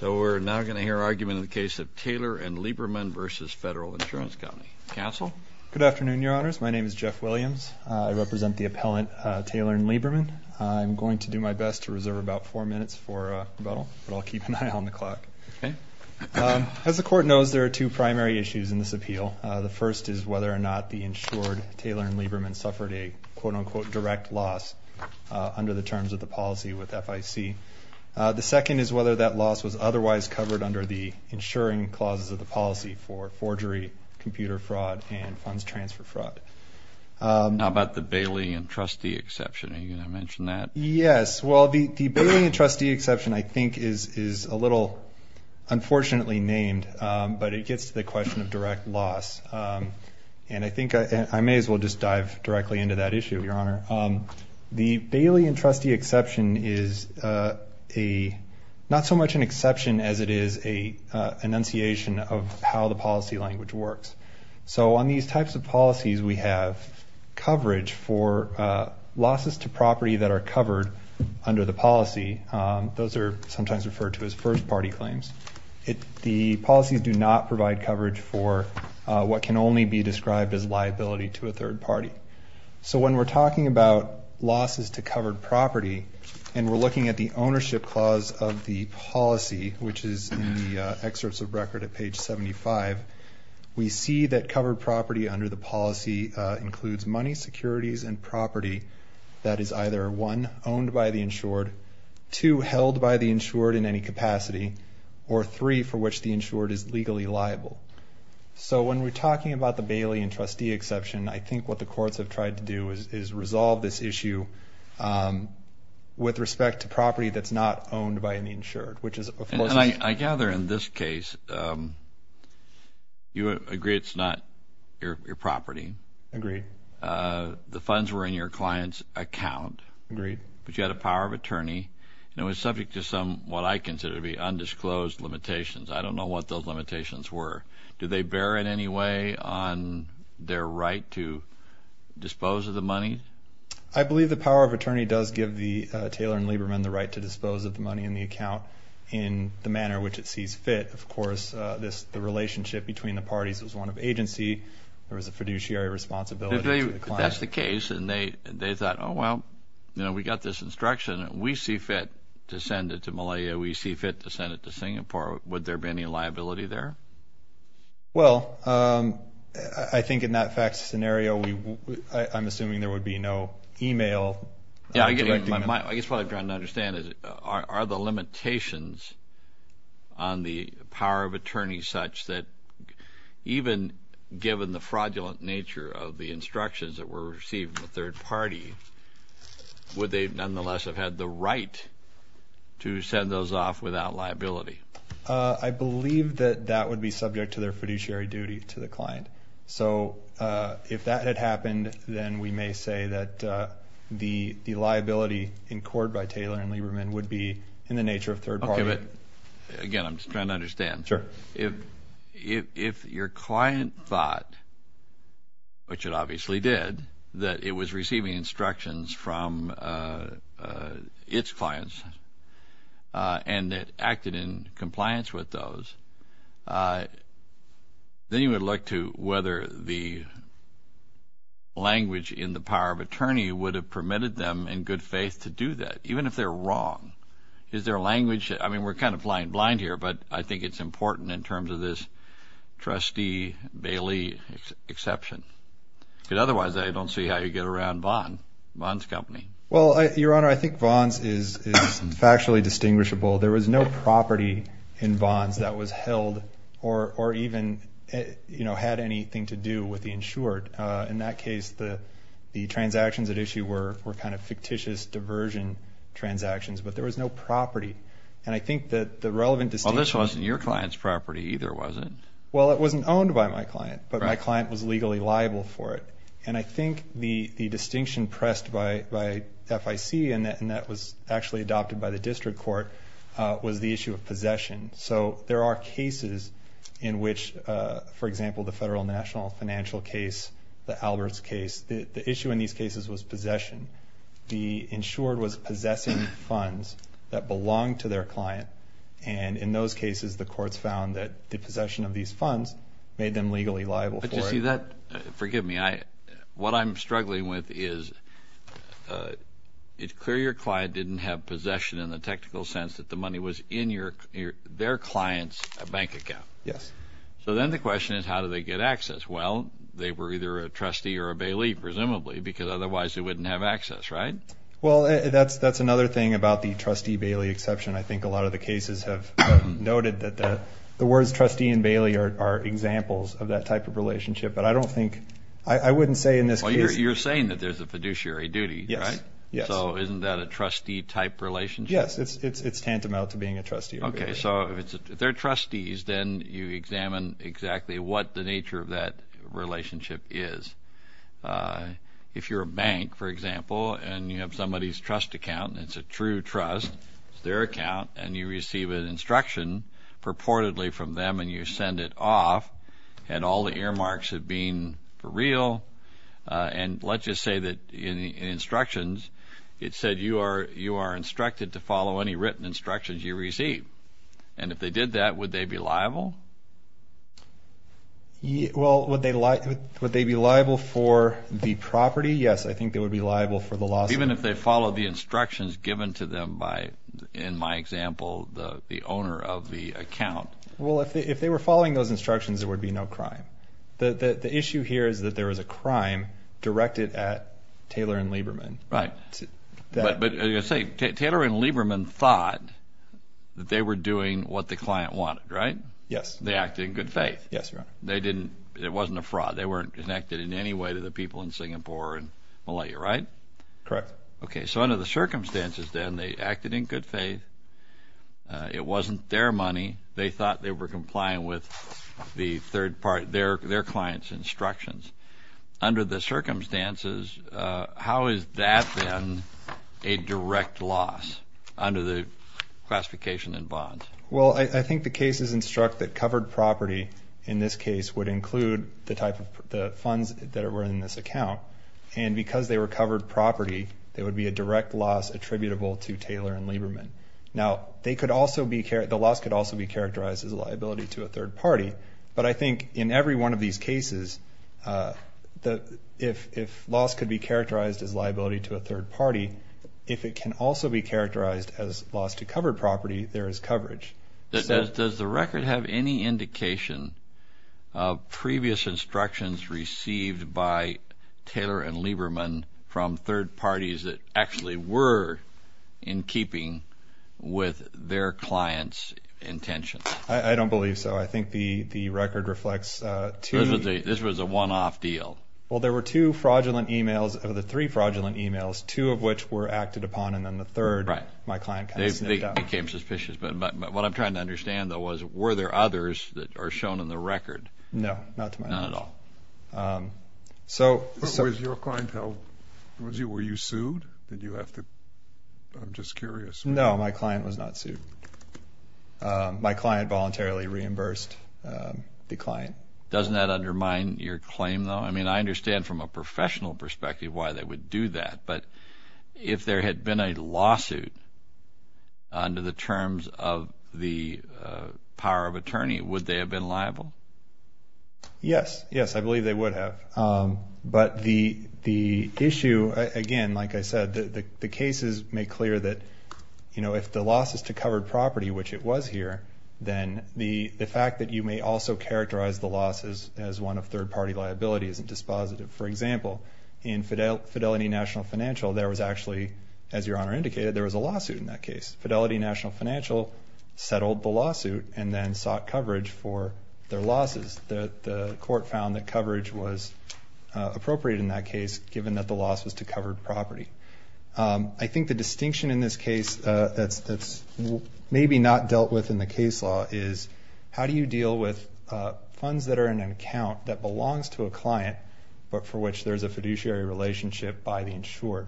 So we're now going to hear an argument in the case of Taylor & Lieberman v. Federal Insurance Company. Counsel? Good afternoon, Your Honors. My name is Jeff Williams. I represent the appellant Taylor & Lieberman. I'm going to do my best to reserve about four minutes for rebuttal, but I'll keep an eye on the clock. Okay. As the Court knows, there are two primary issues in this appeal. The first is whether or not the insured Taylor & Lieberman suffered a quote-unquote direct loss under the terms of the policy with FIC. The second is whether that loss was otherwise covered under the insuring clauses of the policy for forgery, computer fraud, and funds transfer fraud. How about the Bailey and Trustee exception? Are you going to mention that? Yes. Well, the Bailey and Trustee exception I think is a little unfortunately named, but it gets to the question of direct loss. And I think I may as well just dive directly into that issue, Your Honor. The Bailey and Trustee exception is not so much an exception as it is an enunciation of how the policy language works. So on these types of policies, we have coverage for losses to property that are covered under the policy. Those are sometimes referred to as first-party claims. The policies do not provide coverage for what can only be described as liability to a third party. So when we're talking about losses to covered property, and we're looking at the ownership clause of the policy, which is in the excerpts of record at page 75, we see that covered property under the policy includes money, securities, and property that is either one, owned by the insured, two, held by the insured in any capacity, or three, for which the insured is legally liable. So when we're talking about the Bailey and Trustee exception, I think what the courts have tried to do is resolve this issue with respect to property that's not owned by the insured, which is of course... And I gather in this case, you agree it's not your property. Agreed. The funds were in your client's account. Agreed. But you had a power of attorney, and it was subject to some, what I consider to be undisclosed limitations. I don't know what those limitations were. Do they bear in any way on their right to dispose of the money? I believe the power of attorney does give the Taylor and Lieberman the right to dispose of the money in the account in the manner which it sees fit. Of course, the relationship between the parties was one of agency. There was a fiduciary responsibility to the client. If that's the case, and they thought, oh, well, we got this instruction, and we see fit to send it to Malaya, we see fit to send it to Singapore, would there be any liability there? Well, I think in that fact scenario, I'm assuming there would be no e-mail. I guess what I'm trying to understand is are the limitations on the power of attorney such that even given the fraudulent nature of the instructions that were received in the third party, would they nonetheless have had the right to send those off without liability? I believe that that would be subject to their fiduciary duty to the client. So if that had happened, then we may say that the liability in court by Taylor and Lieberman would be in the nature of third party. Okay, but, again, I'm just trying to understand. Sure. If your client thought, which it obviously did, that it was receiving instructions from its clients and it acted in compliance with those, then you would look to whether the language in the power of attorney would have permitted them in good faith to do that, even if they're wrong. I mean, we're kind of flying blind here, but I think it's important in terms of this trustee Bailey exception. Because otherwise I don't see how you get around Vaughn, Vaughn's company. Well, Your Honor, I think Vaughn's is factually distinguishable. There was no property in Vaughn's that was held or even had anything to do with the insured. In that case, the transactions at issue were kind of fictitious diversion transactions, but there was no property. And I think that the relevant distinction- Well, this wasn't your client's property either, was it? Well, it wasn't owned by my client, but my client was legally liable for it. And I think the distinction pressed by FIC, and that was actually adopted by the district court, was the issue of possession. So there are cases in which, for example, the federal national financial case, the Alberts case, the issue in these cases was possession. The insured was possessing funds that belonged to their client. And in those cases, the courts found that the possession of these funds made them legally liable for it. But, you see, that-forgive me. What I'm struggling with is it's clear your client didn't have possession in the technical sense that the money was in their client's bank account. Yes. So then the question is how do they get access? Well, they were either a trustee or a bailee, presumably, because otherwise they wouldn't have access, right? Well, that's another thing about the trustee-bailee exception. I think a lot of the cases have noted that the words trustee and bailee are examples of that type of relationship. But I don't think-I wouldn't say in this case- Well, you're saying that there's a fiduciary duty, right? Yes, yes. So isn't that a trustee-type relationship? Yes, it's tantamount to being a trustee. Okay, so if they're trustees, then you examine exactly what the nature of that relationship is. If you're a bank, for example, and you have somebody's trust account, and it's a true trust, it's their account, and you receive an instruction purportedly from them and you send it off, and all the earmarks have been for real, and let's just say that in instructions it said you are instructed to follow any written instructions you receive. And if they did that, would they be liable? Well, would they be liable for the property? Yes, I think they would be liable for the loss of- Even if they followed the instructions given to them by, in my example, the owner of the account. Well, if they were following those instructions, there would be no crime. The issue here is that there was a crime directed at Taylor and Lieberman. Right. But as you say, Taylor and Lieberman thought that they were doing what the client wanted, right? Yes. They acted in good faith. Yes, Your Honor. It wasn't a fraud. They weren't connected in any way to the people in Singapore and Malaya, right? Correct. Okay, so under the circumstances then, they acted in good faith, it wasn't their money, they thought they were complying with their client's instructions. Under the circumstances, how has that been a direct loss under the classification in bonds? Well, I think the cases instruct that covered property in this case would include the funds that were in this account. And because they were covered property, there would be a direct loss attributable to Taylor and Lieberman. Now, the loss could also be characterized as a liability to a third party. But I think in every one of these cases, if loss could be characterized as liability to a third party, if it can also be characterized as loss to covered property, there is coverage. Does the record have any indication of previous instructions received by Taylor and Lieberman from third parties that actually were in keeping with their client's intentions? I don't believe so. I think the record reflects two. This was a one-off deal. Well, there were two fraudulent e-mails of the three fraudulent e-mails, two of which were acted upon, and then the third, my client kind of sniffed out. It became suspicious. But what I'm trying to understand, though, was were there others that are shown in the record? No, not to my knowledge. Not at all. Was your client held? Were you sued? Did you have to? I'm just curious. No, my client was not sued. My client voluntarily reimbursed the client. Doesn't that undermine your claim, though? I mean, I understand from a professional perspective why they would do that. But if there had been a lawsuit under the terms of the power of attorney, would they have been liable? Yes. Yes, I believe they would have. But the issue, again, like I said, the cases make clear that, you know, if the loss is to covered property, which it was here, then the fact that you may also characterize the loss as one of third-party liability isn't dispositive. For example, in Fidelity National Financial, there was actually, as Your Honor indicated, there was a lawsuit in that case. Fidelity National Financial settled the lawsuit and then sought coverage for their losses. The court found that coverage was appropriate in that case, given that the loss was to covered property. I think the distinction in this case that's maybe not dealt with in the case law is, how do you deal with funds that are in an account that belongs to a client, but for which there's a fiduciary relationship by the insurer?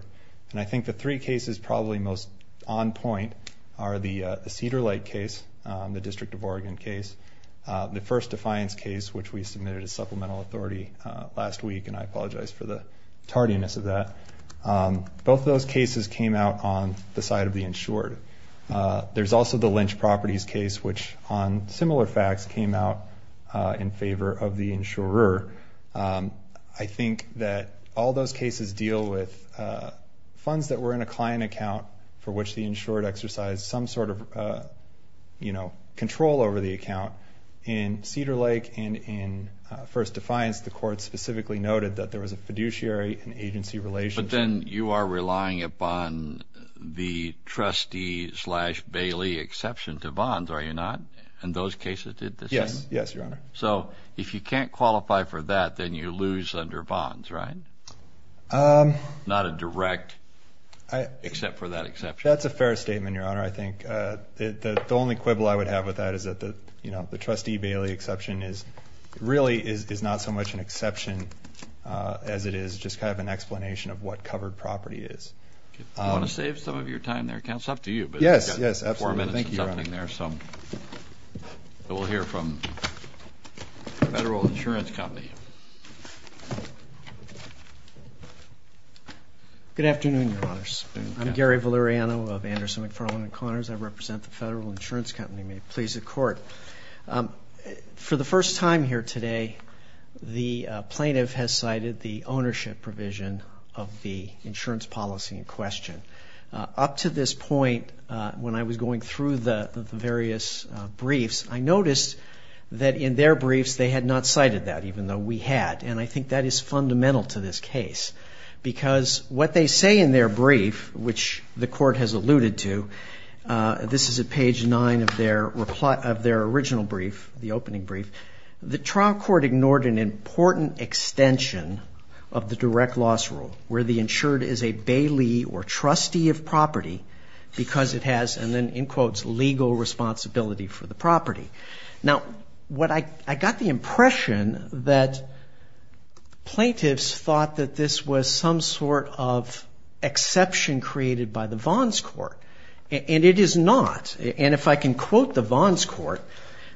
And I think the three cases probably most on point are the Cedar Lake case, the District of Oregon case, the first defiance case, which we submitted as supplemental authority last week, and I apologize for the tardiness of that. Both those cases came out on the side of the insured. There's also the Lynch Properties case, which on similar facts came out in favor of the insurer. I think that all those cases deal with funds that were in a client account for which the insured exercised some sort of, you know, control over the account. In Cedar Lake and in first defiance, the court specifically noted that there was a fiduciary and agency relationship. But then you are relying upon the trustee slash Bailey exception to bonds, are you not? And those cases did the same? Yes, Your Honor. So if you can't qualify for that, then you lose under bonds, right? Not a direct, except for that exception. That's a fair statement, Your Honor. I think the only quibble I would have with that is that, you know, the trustee Bailey exception really is not so much an exception as it is just kind of an explanation of what covered property is. Do you want to save some of your time there, counsel? It's up to you. Yes, yes, absolutely. Thank you, Your Honor. We'll hear from the Federal Insurance Company. Good afternoon, Your Honors. I'm Gary Valeriano of Anderson, McFarland & Connors. I represent the Federal Insurance Company. May it please the Court. For the first time here today, the plaintiff has cited the ownership provision of the insurance policy in question. Up to this point, when I was going through the various briefs, I noticed that in their briefs they had not cited that, even though we had. And I think that is fundamental to this case because what they say in their brief, which the Court has alluded to, this is at page 9 of their original brief, the opening brief, the trial court ignored an important extension of the direct loss rule where the insured is a Bailey or trustee of property because it has, and then in quotes, legal responsibility for the property. Now, I got the impression that plaintiffs thought that this was some sort of exception created by the Vons court, and it is not. And if I can quote the Vons court,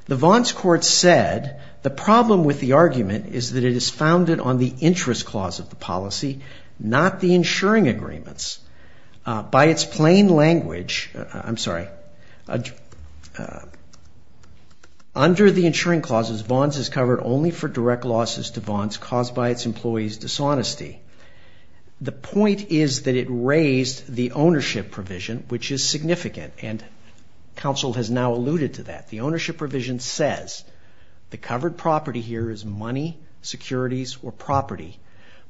the Vons court said, the problem with the argument is that it is founded on the interest clause of the policy, not the insuring agreements. By its plain language, I'm sorry, under the insuring clauses, Vons is covered only for direct losses to Vons caused by its employees' dishonesty. The point is that it raised the ownership provision, which is significant, and counsel has now alluded to that. The ownership provision says the covered property here is money, securities, or property,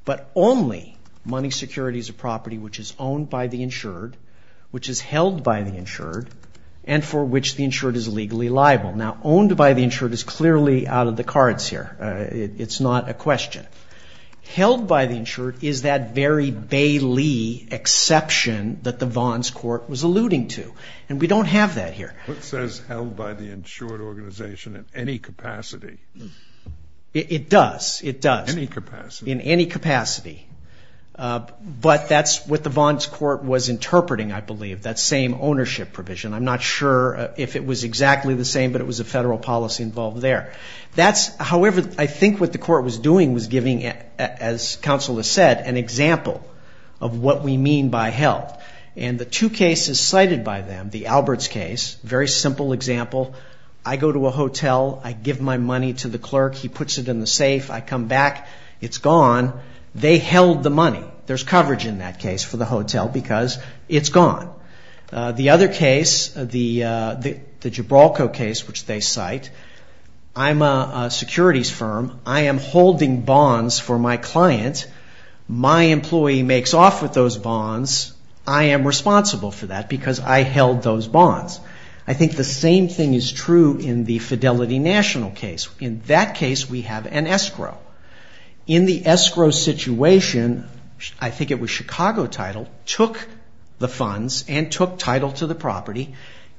but only money, securities, or property which is owned by the insured, which is held by the insured, and for which the insured is legally liable. Now, owned by the insured is clearly out of the cards here. It's not a question. Held by the insured is that very Bailey exception that the Vons court was alluding to, and we don't have that here. It says held by the insured organization in any capacity. It does. It does. Any capacity. In any capacity. But that's what the Vons court was interpreting, I believe, that same ownership provision. I'm not sure if it was exactly the same, but it was a federal policy involved there. However, I think what the court was doing was giving, as counsel has said, an example of what we mean by held, and the two cases cited by them, the Alberts case, very simple example, I go to a hotel. I give my money to the clerk. He puts it in the safe. I come back. It's gone. They held the money. There's coverage in that case for the hotel because it's gone. The other case, the Gibralko case, which they cite, I'm a securities firm. I am holding bonds for my client. My employee makes off with those bonds. I am responsible for that because I held those bonds. I think the same thing is true in the Fidelity National case. In that case, we have an escrow. In the escrow situation, I think it was Chicago Title took the funds and took Title to the property,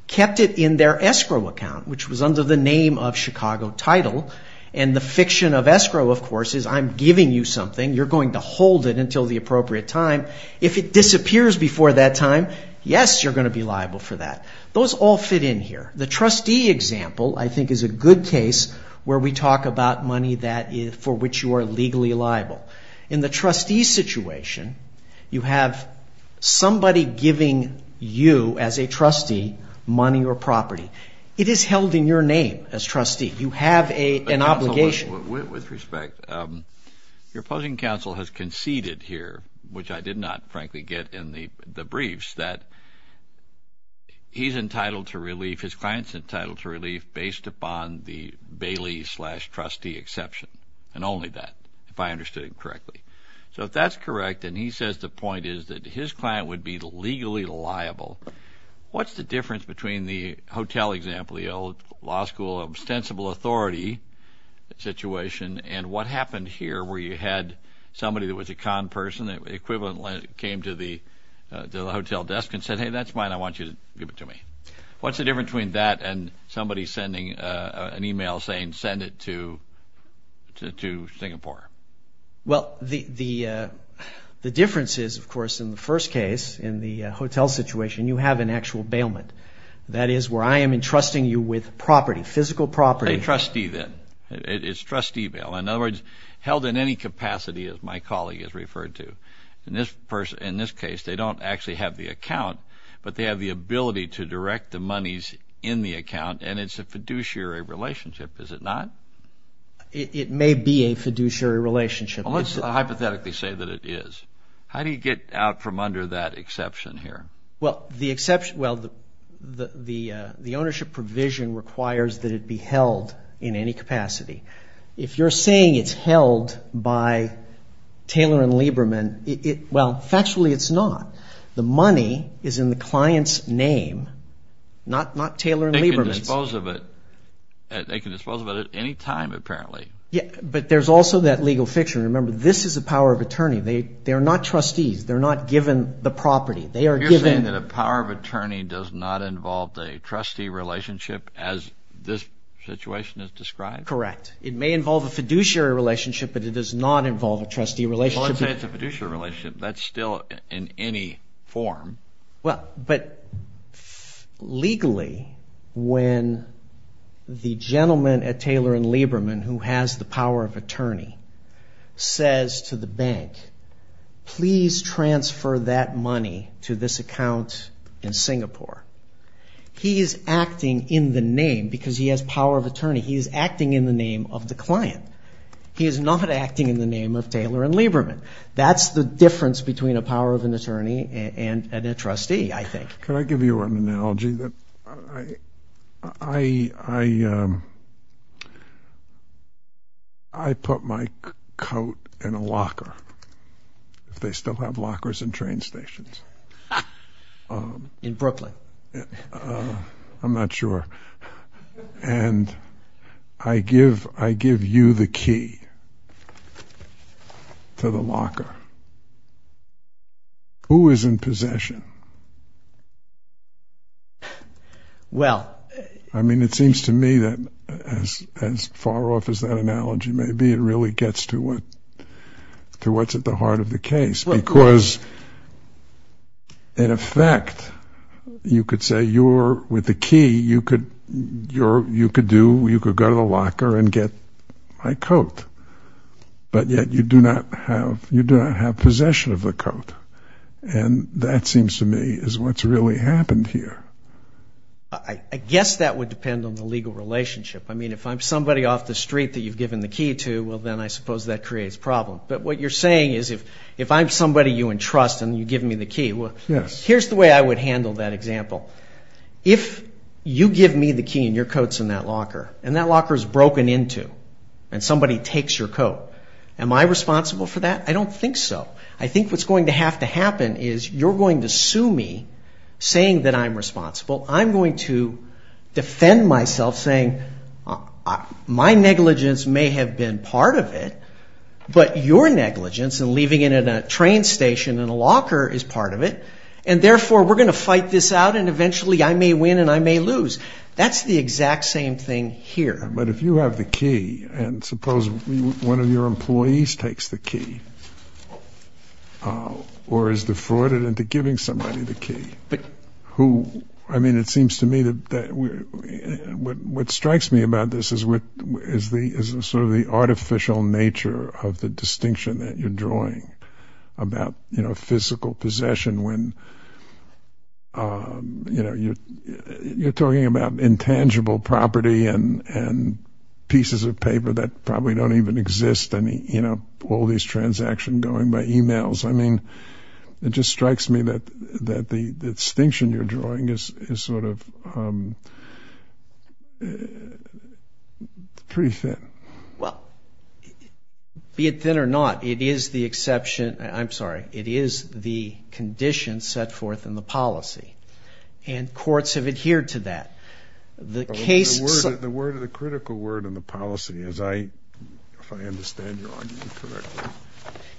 kept it in their escrow account, which was under the name of Chicago Title, and the fiction of escrow, of course, is I'm giving you something. You're going to hold it until the appropriate time. If it disappears before that time, yes, you're going to be liable for that. Those all fit in here. The trustee example, I think, is a good case where we talk about money for which you are legally liable. In the trustee situation, you have somebody giving you as a trustee money or property. It is held in your name as trustee. You have an obligation. With respect, your opposing counsel has conceded here, which I did not, frankly, get in the briefs, that he's entitled to relief, his client's entitled to relief based upon the Bailey slash trustee exception, and only that, if I understood him correctly. So if that's correct and he says the point is that his client would be legally liable, what's the difference between the hotel example, the old law school ostensible authority situation, and what happened here where you had somebody that was a con person, the equivalent came to the hotel desk and said, hey, that's mine. I want you to give it to me. What's the difference between that and somebody sending an e-mail saying send it to Singapore? Well, the difference is, of course, in the first case, in the hotel situation, you have an actual bailment. That is where I am entrusting you with property, physical property. A trustee then. It's trustee bail. In other words, held in any capacity, as my colleague has referred to. In this case, they don't actually have the account, but they have the ability to direct the monies in the account, and it's a fiduciary relationship, is it not? It may be a fiduciary relationship. Let's hypothetically say that it is. How do you get out from under that exception here? Well, the ownership provision requires that it be held in any capacity. If you're saying it's held by Taylor and Lieberman, well, factually it's not. The money is in the client's name, not Taylor and Lieberman's. They can dispose of it at any time, apparently. But there's also that legal fiction. Remember, this is a power of attorney. They are not trustees. They're not given the property. You're saying that a power of attorney does not involve a trustee relationship as this situation is described? Correct. It may involve a fiduciary relationship, but it does not involve a trustee relationship. Well, let's say it's a fiduciary relationship. That's still in any form. But legally, when the gentleman at Taylor and Lieberman who has the power of attorney says to the bank, please transfer that money to this account in Singapore, he is acting in the name because he has power of attorney. He is acting in the name of the client. He is not acting in the name of Taylor and Lieberman. That's the difference between a power of an attorney and a trustee, I think. Can I give you an analogy? I put my coat in a locker, if they still have lockers in train stations. In Brooklyn. I'm not sure. And I give you the key to the locker. Who is in possession? Well. I mean, it seems to me that as far off as that analogy may be, it really gets to what's at the heart of the case. Because, in effect, you could say with the key, you could go to the locker and get my coat. But yet you do not have possession of the coat. And that seems to me is what's really happened here. I guess that would depend on the legal relationship. I mean, if I'm somebody off the street that you've given the key to, well, then I suppose that creates a problem. But what you're saying is if I'm somebody you entrust and you give me the key, well, here's the way I would handle that example. If you give me the key and your coat's in that locker, and that locker is broken into, and somebody takes your coat, am I responsible for that? I don't think so. I think what's going to have to happen is you're going to sue me, saying that I'm responsible. I'm going to defend myself, saying my negligence may have been part of it, but your negligence and leaving it in a train station in a locker is part of it. And, therefore, we're going to fight this out, and eventually I may win and I may lose. That's the exact same thing here. But if you have the key, and suppose one of your employees takes the key, or is defrauded into giving somebody the key, who... I mean, it seems to me that what strikes me about this is sort of the artificial nature of the distinction that you're drawing about physical possession, when, you know, you're talking about intangible property and pieces of paper that probably don't even exist, and, you know, all these transactions going by emails. I mean, it just strikes me that the distinction you're drawing is sort of pretty thin. Well, be it thin or not, it is the exception, I'm sorry, it is the condition set forth in the policy, and courts have adhered to that. The case... The word, the critical word in the policy, as I, if I understand your argument correctly...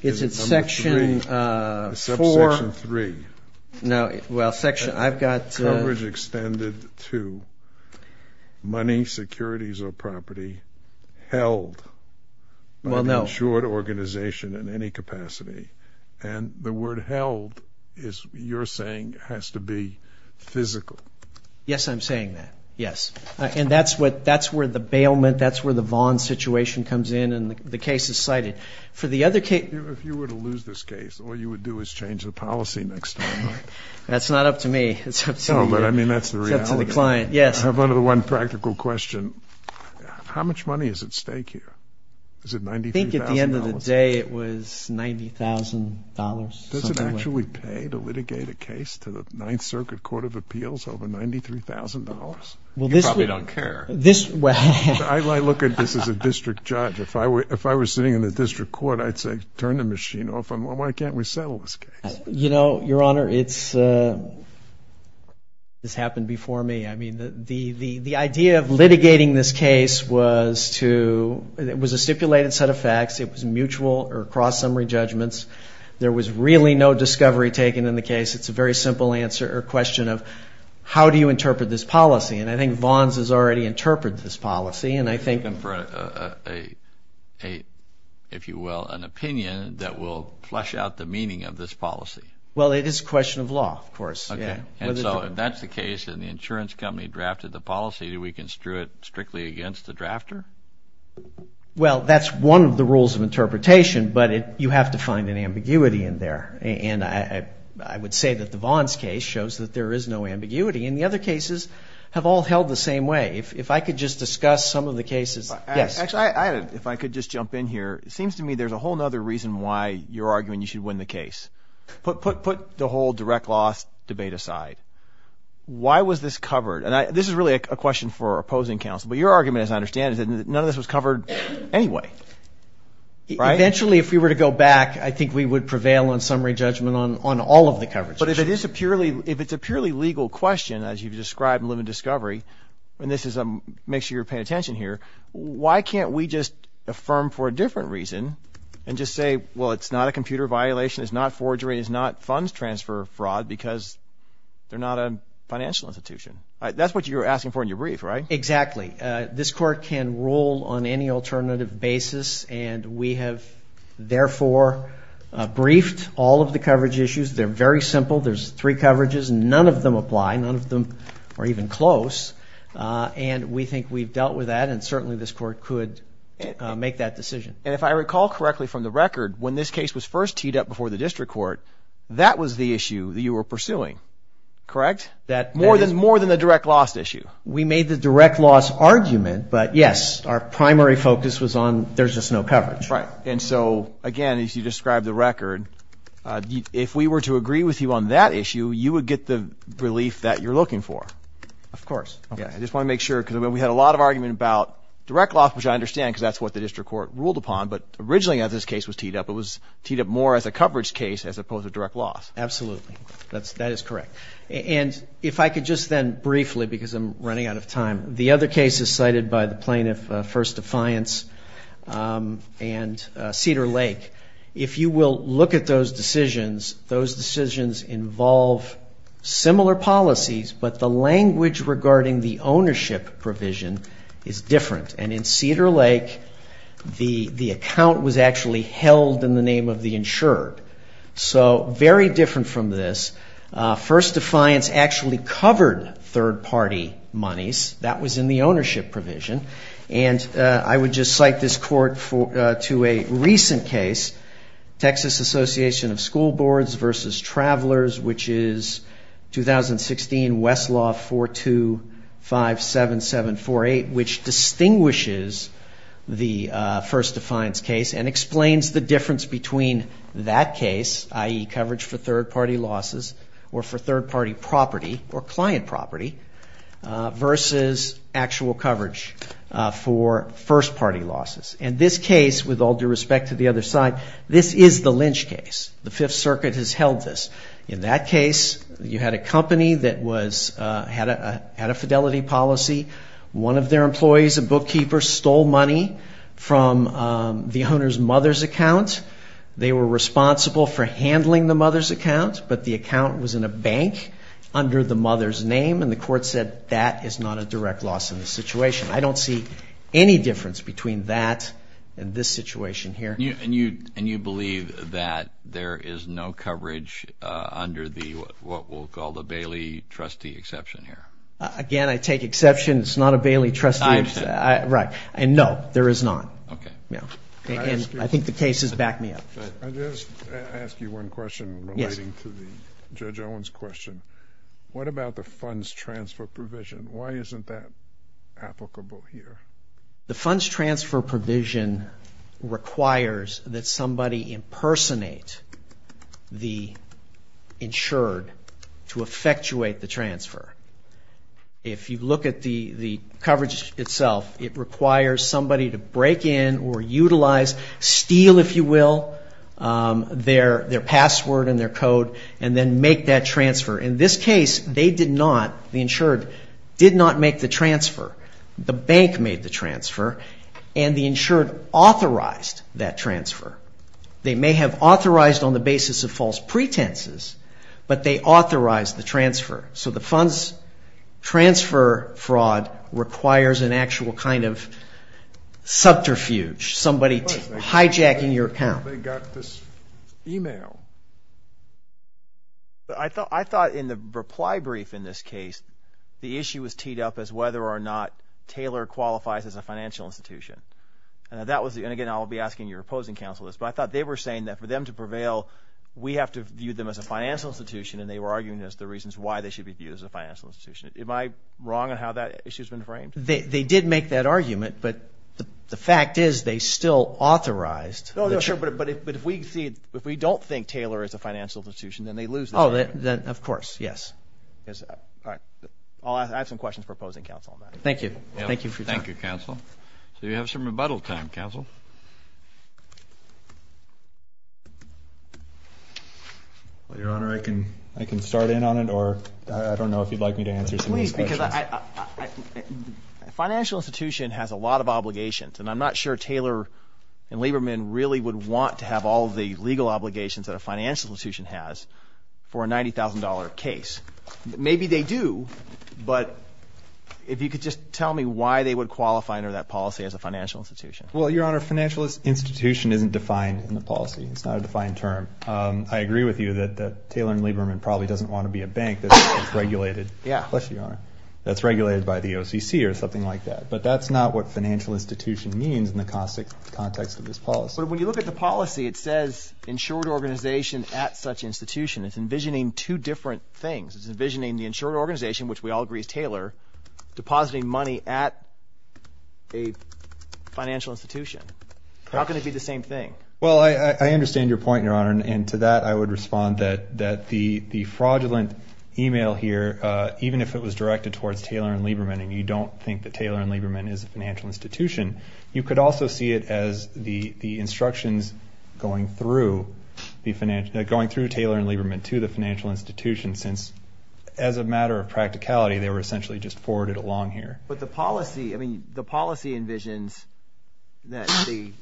It's in Section 4... Subsection 3. No, well, Section, I've got... Coverage extended to money, securities, or property held by the insured organization in any capacity. And the word held is, you're saying, has to be physical. Yes, I'm saying that, yes. And that's what, that's where the bailment, that's where the Vaughn situation comes in, and the case is cited. For the other case... If you were to lose this case, all you would do is change the policy next time. That's not up to me. No, but I mean, that's the reality. It's up to the client, yes. I have only one practical question. How much money is at stake here? Is it $93,000? I think at the end of the day, it was $90,000. Does it actually pay to litigate a case to the Ninth Circuit Court of Appeals over $93,000? You probably don't care. This, well... I look at this as a district judge. If I were sitting in the district court, I'd say, turn the machine off, and why can't we settle this case? You know, Your Honor, it's happened before me. I mean, the idea of litigating this case was to, it was a stipulated set of facts. It was mutual or cross-summary judgments. There was really no discovery taken in the case. It's a very simple answer or question of, how do you interpret this policy? And I think Vaughn's has already interpreted this policy, and I think... if you will, an opinion that will flush out the meaning of this policy. Well, it is a question of law, of course. And so if that's the case and the insurance company drafted the policy, do we construe it strictly against the drafter? Well, that's one of the rules of interpretation, but you have to find an ambiguity in there. And I would say that the Vaughn's case shows that there is no ambiguity. And the other cases have all held the same way. If I could just discuss some of the cases. Actually, if I could just jump in here. It seems to me there's a whole other reason why you're arguing you should win the case. Put the whole direct loss debate aside. Why was this covered? And this is really a question for opposing counsel. But your argument, as I understand it, is that none of this was covered anyway, right? Eventually, if we were to go back, I think we would prevail on summary judgment on all of the coverage issues. But if it's a purely legal question, as you've described in Limit Discovery, and make sure you're paying attention here, why can't we just affirm for a different reason and just say, well, it's not a computer violation, it's not forgery, it's not funds transfer fraud because they're not a financial institution. That's what you were asking for in your brief, right? Exactly. This court can rule on any alternative basis, and we have, therefore, briefed all of the coverage issues. They're very simple. There's three coverages. None of them apply. None of them are even close. And we think we've dealt with that, and certainly this court could make that decision. And if I recall correctly from the record, when this case was first teed up before the district court, that was the issue that you were pursuing, correct? More than the direct loss issue. We made the direct loss argument, but, yes, our primary focus was on there's just no coverage. Right. And so, again, as you described the record, if we were to agree with you on that issue, you would get the relief that you're looking for. Of course. I just want to make sure, because we had a lot of argument about direct loss, which I understand because that's what the district court ruled upon, but originally as this case was teed up, it was teed up more as a coverage case as opposed to direct loss. Absolutely. That is correct. And if I could just then briefly, because I'm running out of time, the other cases cited by the plaintiff, First Defiance and Cedar Lake, if you will look at those decisions, those decisions involve similar policies, but the language regarding the ownership provision is different. And in Cedar Lake, the account was actually held in the name of the insured. So very different from this. First Defiance actually covered third party monies. That was in the ownership provision. And I would just cite this court to a recent case, Texas Association of School Boards versus Travelers, which is 2016 Westlaw 4257748, which distinguishes the First Defiance case and explains the difference between that case, i.e. coverage for third party losses or for third party property or client property versus actual coverage for first party losses. And this case, with all due respect to the other side, this is the lynch case. The Fifth Circuit has held this. In that case, you had a company that had a fidelity policy. One of their employees, a bookkeeper, stole money from the owner's mother's account. They were responsible for handling the mother's account, but the account was in a bank under the mother's name, and the court said that is not a direct loss in the situation. I don't see any difference between that and this situation here. And you believe that there is no coverage under what we'll call the Bailey trustee exception here? Again, I take exception. It's not a Bailey trustee exception. Right. And no, there is not. Okay. And I think the case has backed me up. I'll just ask you one question relating to Judge Owen's question. What about the funds transfer provision? Why isn't that applicable here? The funds transfer provision requires that somebody impersonate the insured to effectuate the transfer. If you look at the coverage itself, it requires somebody to break in or utilize, steal, if you will, their password and their code and then make that transfer. In this case, they did not, the insured, did not make the transfer. The bank made the transfer, and the insured authorized that transfer. They may have authorized on the basis of false pretenses, but they authorized the transfer. So the funds transfer fraud requires an actual kind of subterfuge, somebody hijacking your account. They got this e-mail. I thought in the reply brief in this case, the issue was teed up as whether or not Taylor qualifies as a financial institution. And again, I'll be asking your opposing counsel this, but I thought they were saying that for them to prevail, we have to view them as a financial institution, and they were arguing as to the reasons why they should be viewed as a financial institution. Am I wrong on how that issue has been framed? They did make that argument, but the fact is they still authorized the transfer. But if we don't think Taylor is a financial institution, then they lose the argument. Oh, then of course, yes. All right. I have some questions for opposing counsel on that. Thank you. Thank you for your time. Thank you, counsel. So you have some rebuttal time, counsel. Well, Your Honor, I can start in on it, or I don't know if you'd like me to answer some of these questions. Please, because a financial institution has a lot of obligations, and I'm not sure Taylor and Lieberman really would want to have all of the legal obligations that a financial institution has for a $90,000 case. Maybe they do, but if you could just tell me why they would qualify under that policy as a financial institution. Well, Your Honor, financial institution isn't defined in the policy. It's not a defined term. I agree with you that Taylor and Lieberman probably doesn't want to be a bank that's regulated. Yeah. That's regulated by the OCC or something like that. But that's not what financial institution means in the context of this policy. But when you look at the policy, it says insured organization at such institution. It's envisioning two different things. It's envisioning the insured organization, which we all agree is Taylor, depositing money at a financial institution. How can it be the same thing? Well, I understand your point, Your Honor, and to that I would respond that the fraudulent email here, even if it was directed towards Taylor and Lieberman and you don't think that Taylor and Lieberman is a financial institution, you could also see it as the instructions going through Taylor and Lieberman to the financial institution since as a matter of practicality, they were essentially just forwarded along here. But the policy envisions that the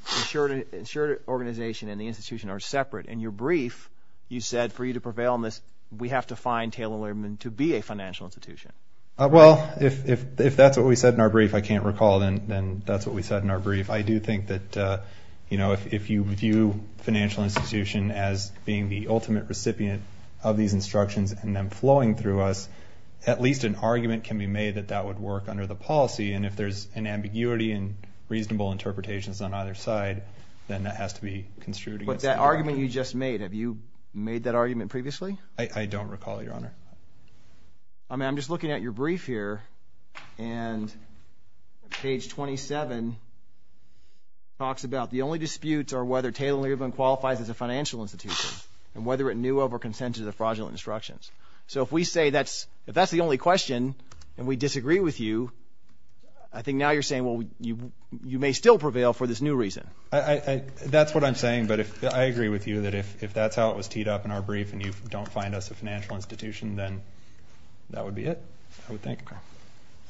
insured organization and the institution are separate. In your brief, you said for you to prevail on this, we have to find Taylor and Lieberman to be a financial institution. Well, if that's what we said in our brief, I can't recall, then that's what we said in our brief. I do think that if you view financial institution as being the ultimate recipient of these instructions and them flowing through us, at least an argument can be made that that would work under the policy, and if there's an ambiguity and reasonable interpretations on either side, then that has to be construed against the argument. But that argument you just made, have you made that argument previously? I don't recall, Your Honor. I'm just looking at your brief here, and page 27 talks about the only disputes are whether Taylor and Lieberman qualifies as a financial institution and whether it knew of or consented to the fraudulent instructions. So if we say that's the only question and we disagree with you, I think now you're saying, well, you may still prevail for this new reason. That's what I'm saying, but I agree with you that if that's how it was teed up in our brief and you don't find us a financial institution, then that would be it, I would think.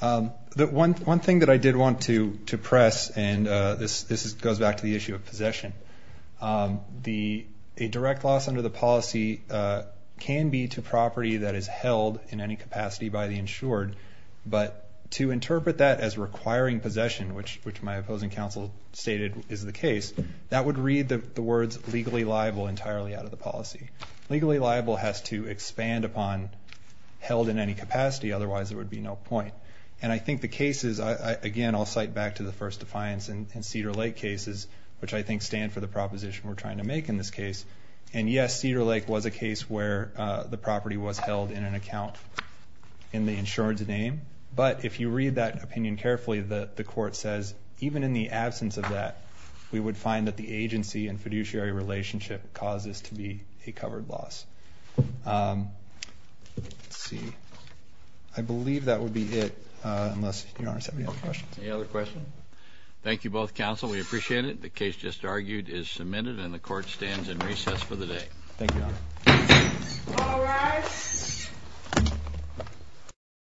One thing that I did want to press, and this goes back to the issue of possession, a direct loss under the policy can be to property that is held in any capacity by the insured, but to interpret that as requiring possession, which my opposing counsel stated is the case, that would read the words legally liable entirely out of the policy. Legally liable has to expand upon held in any capacity, otherwise there would be no point. And I think the cases, again, I'll cite back to the first defiance in Cedar Lake cases, which I think stand for the proposition we're trying to make in this case. And yes, Cedar Lake was a case where the property was held in an account in the insured's name, but if you read that opinion carefully, the court says even in the absence of that, we would find that the agency and fiduciary relationship causes to be a covered loss. Let's see. I believe that would be it, unless Your Honor has any other questions. Any other questions? Thank you both, counsel. We appreciate it. The case just argued is submitted and the court stands in recess for the day. Thank you, Your Honor. All rise.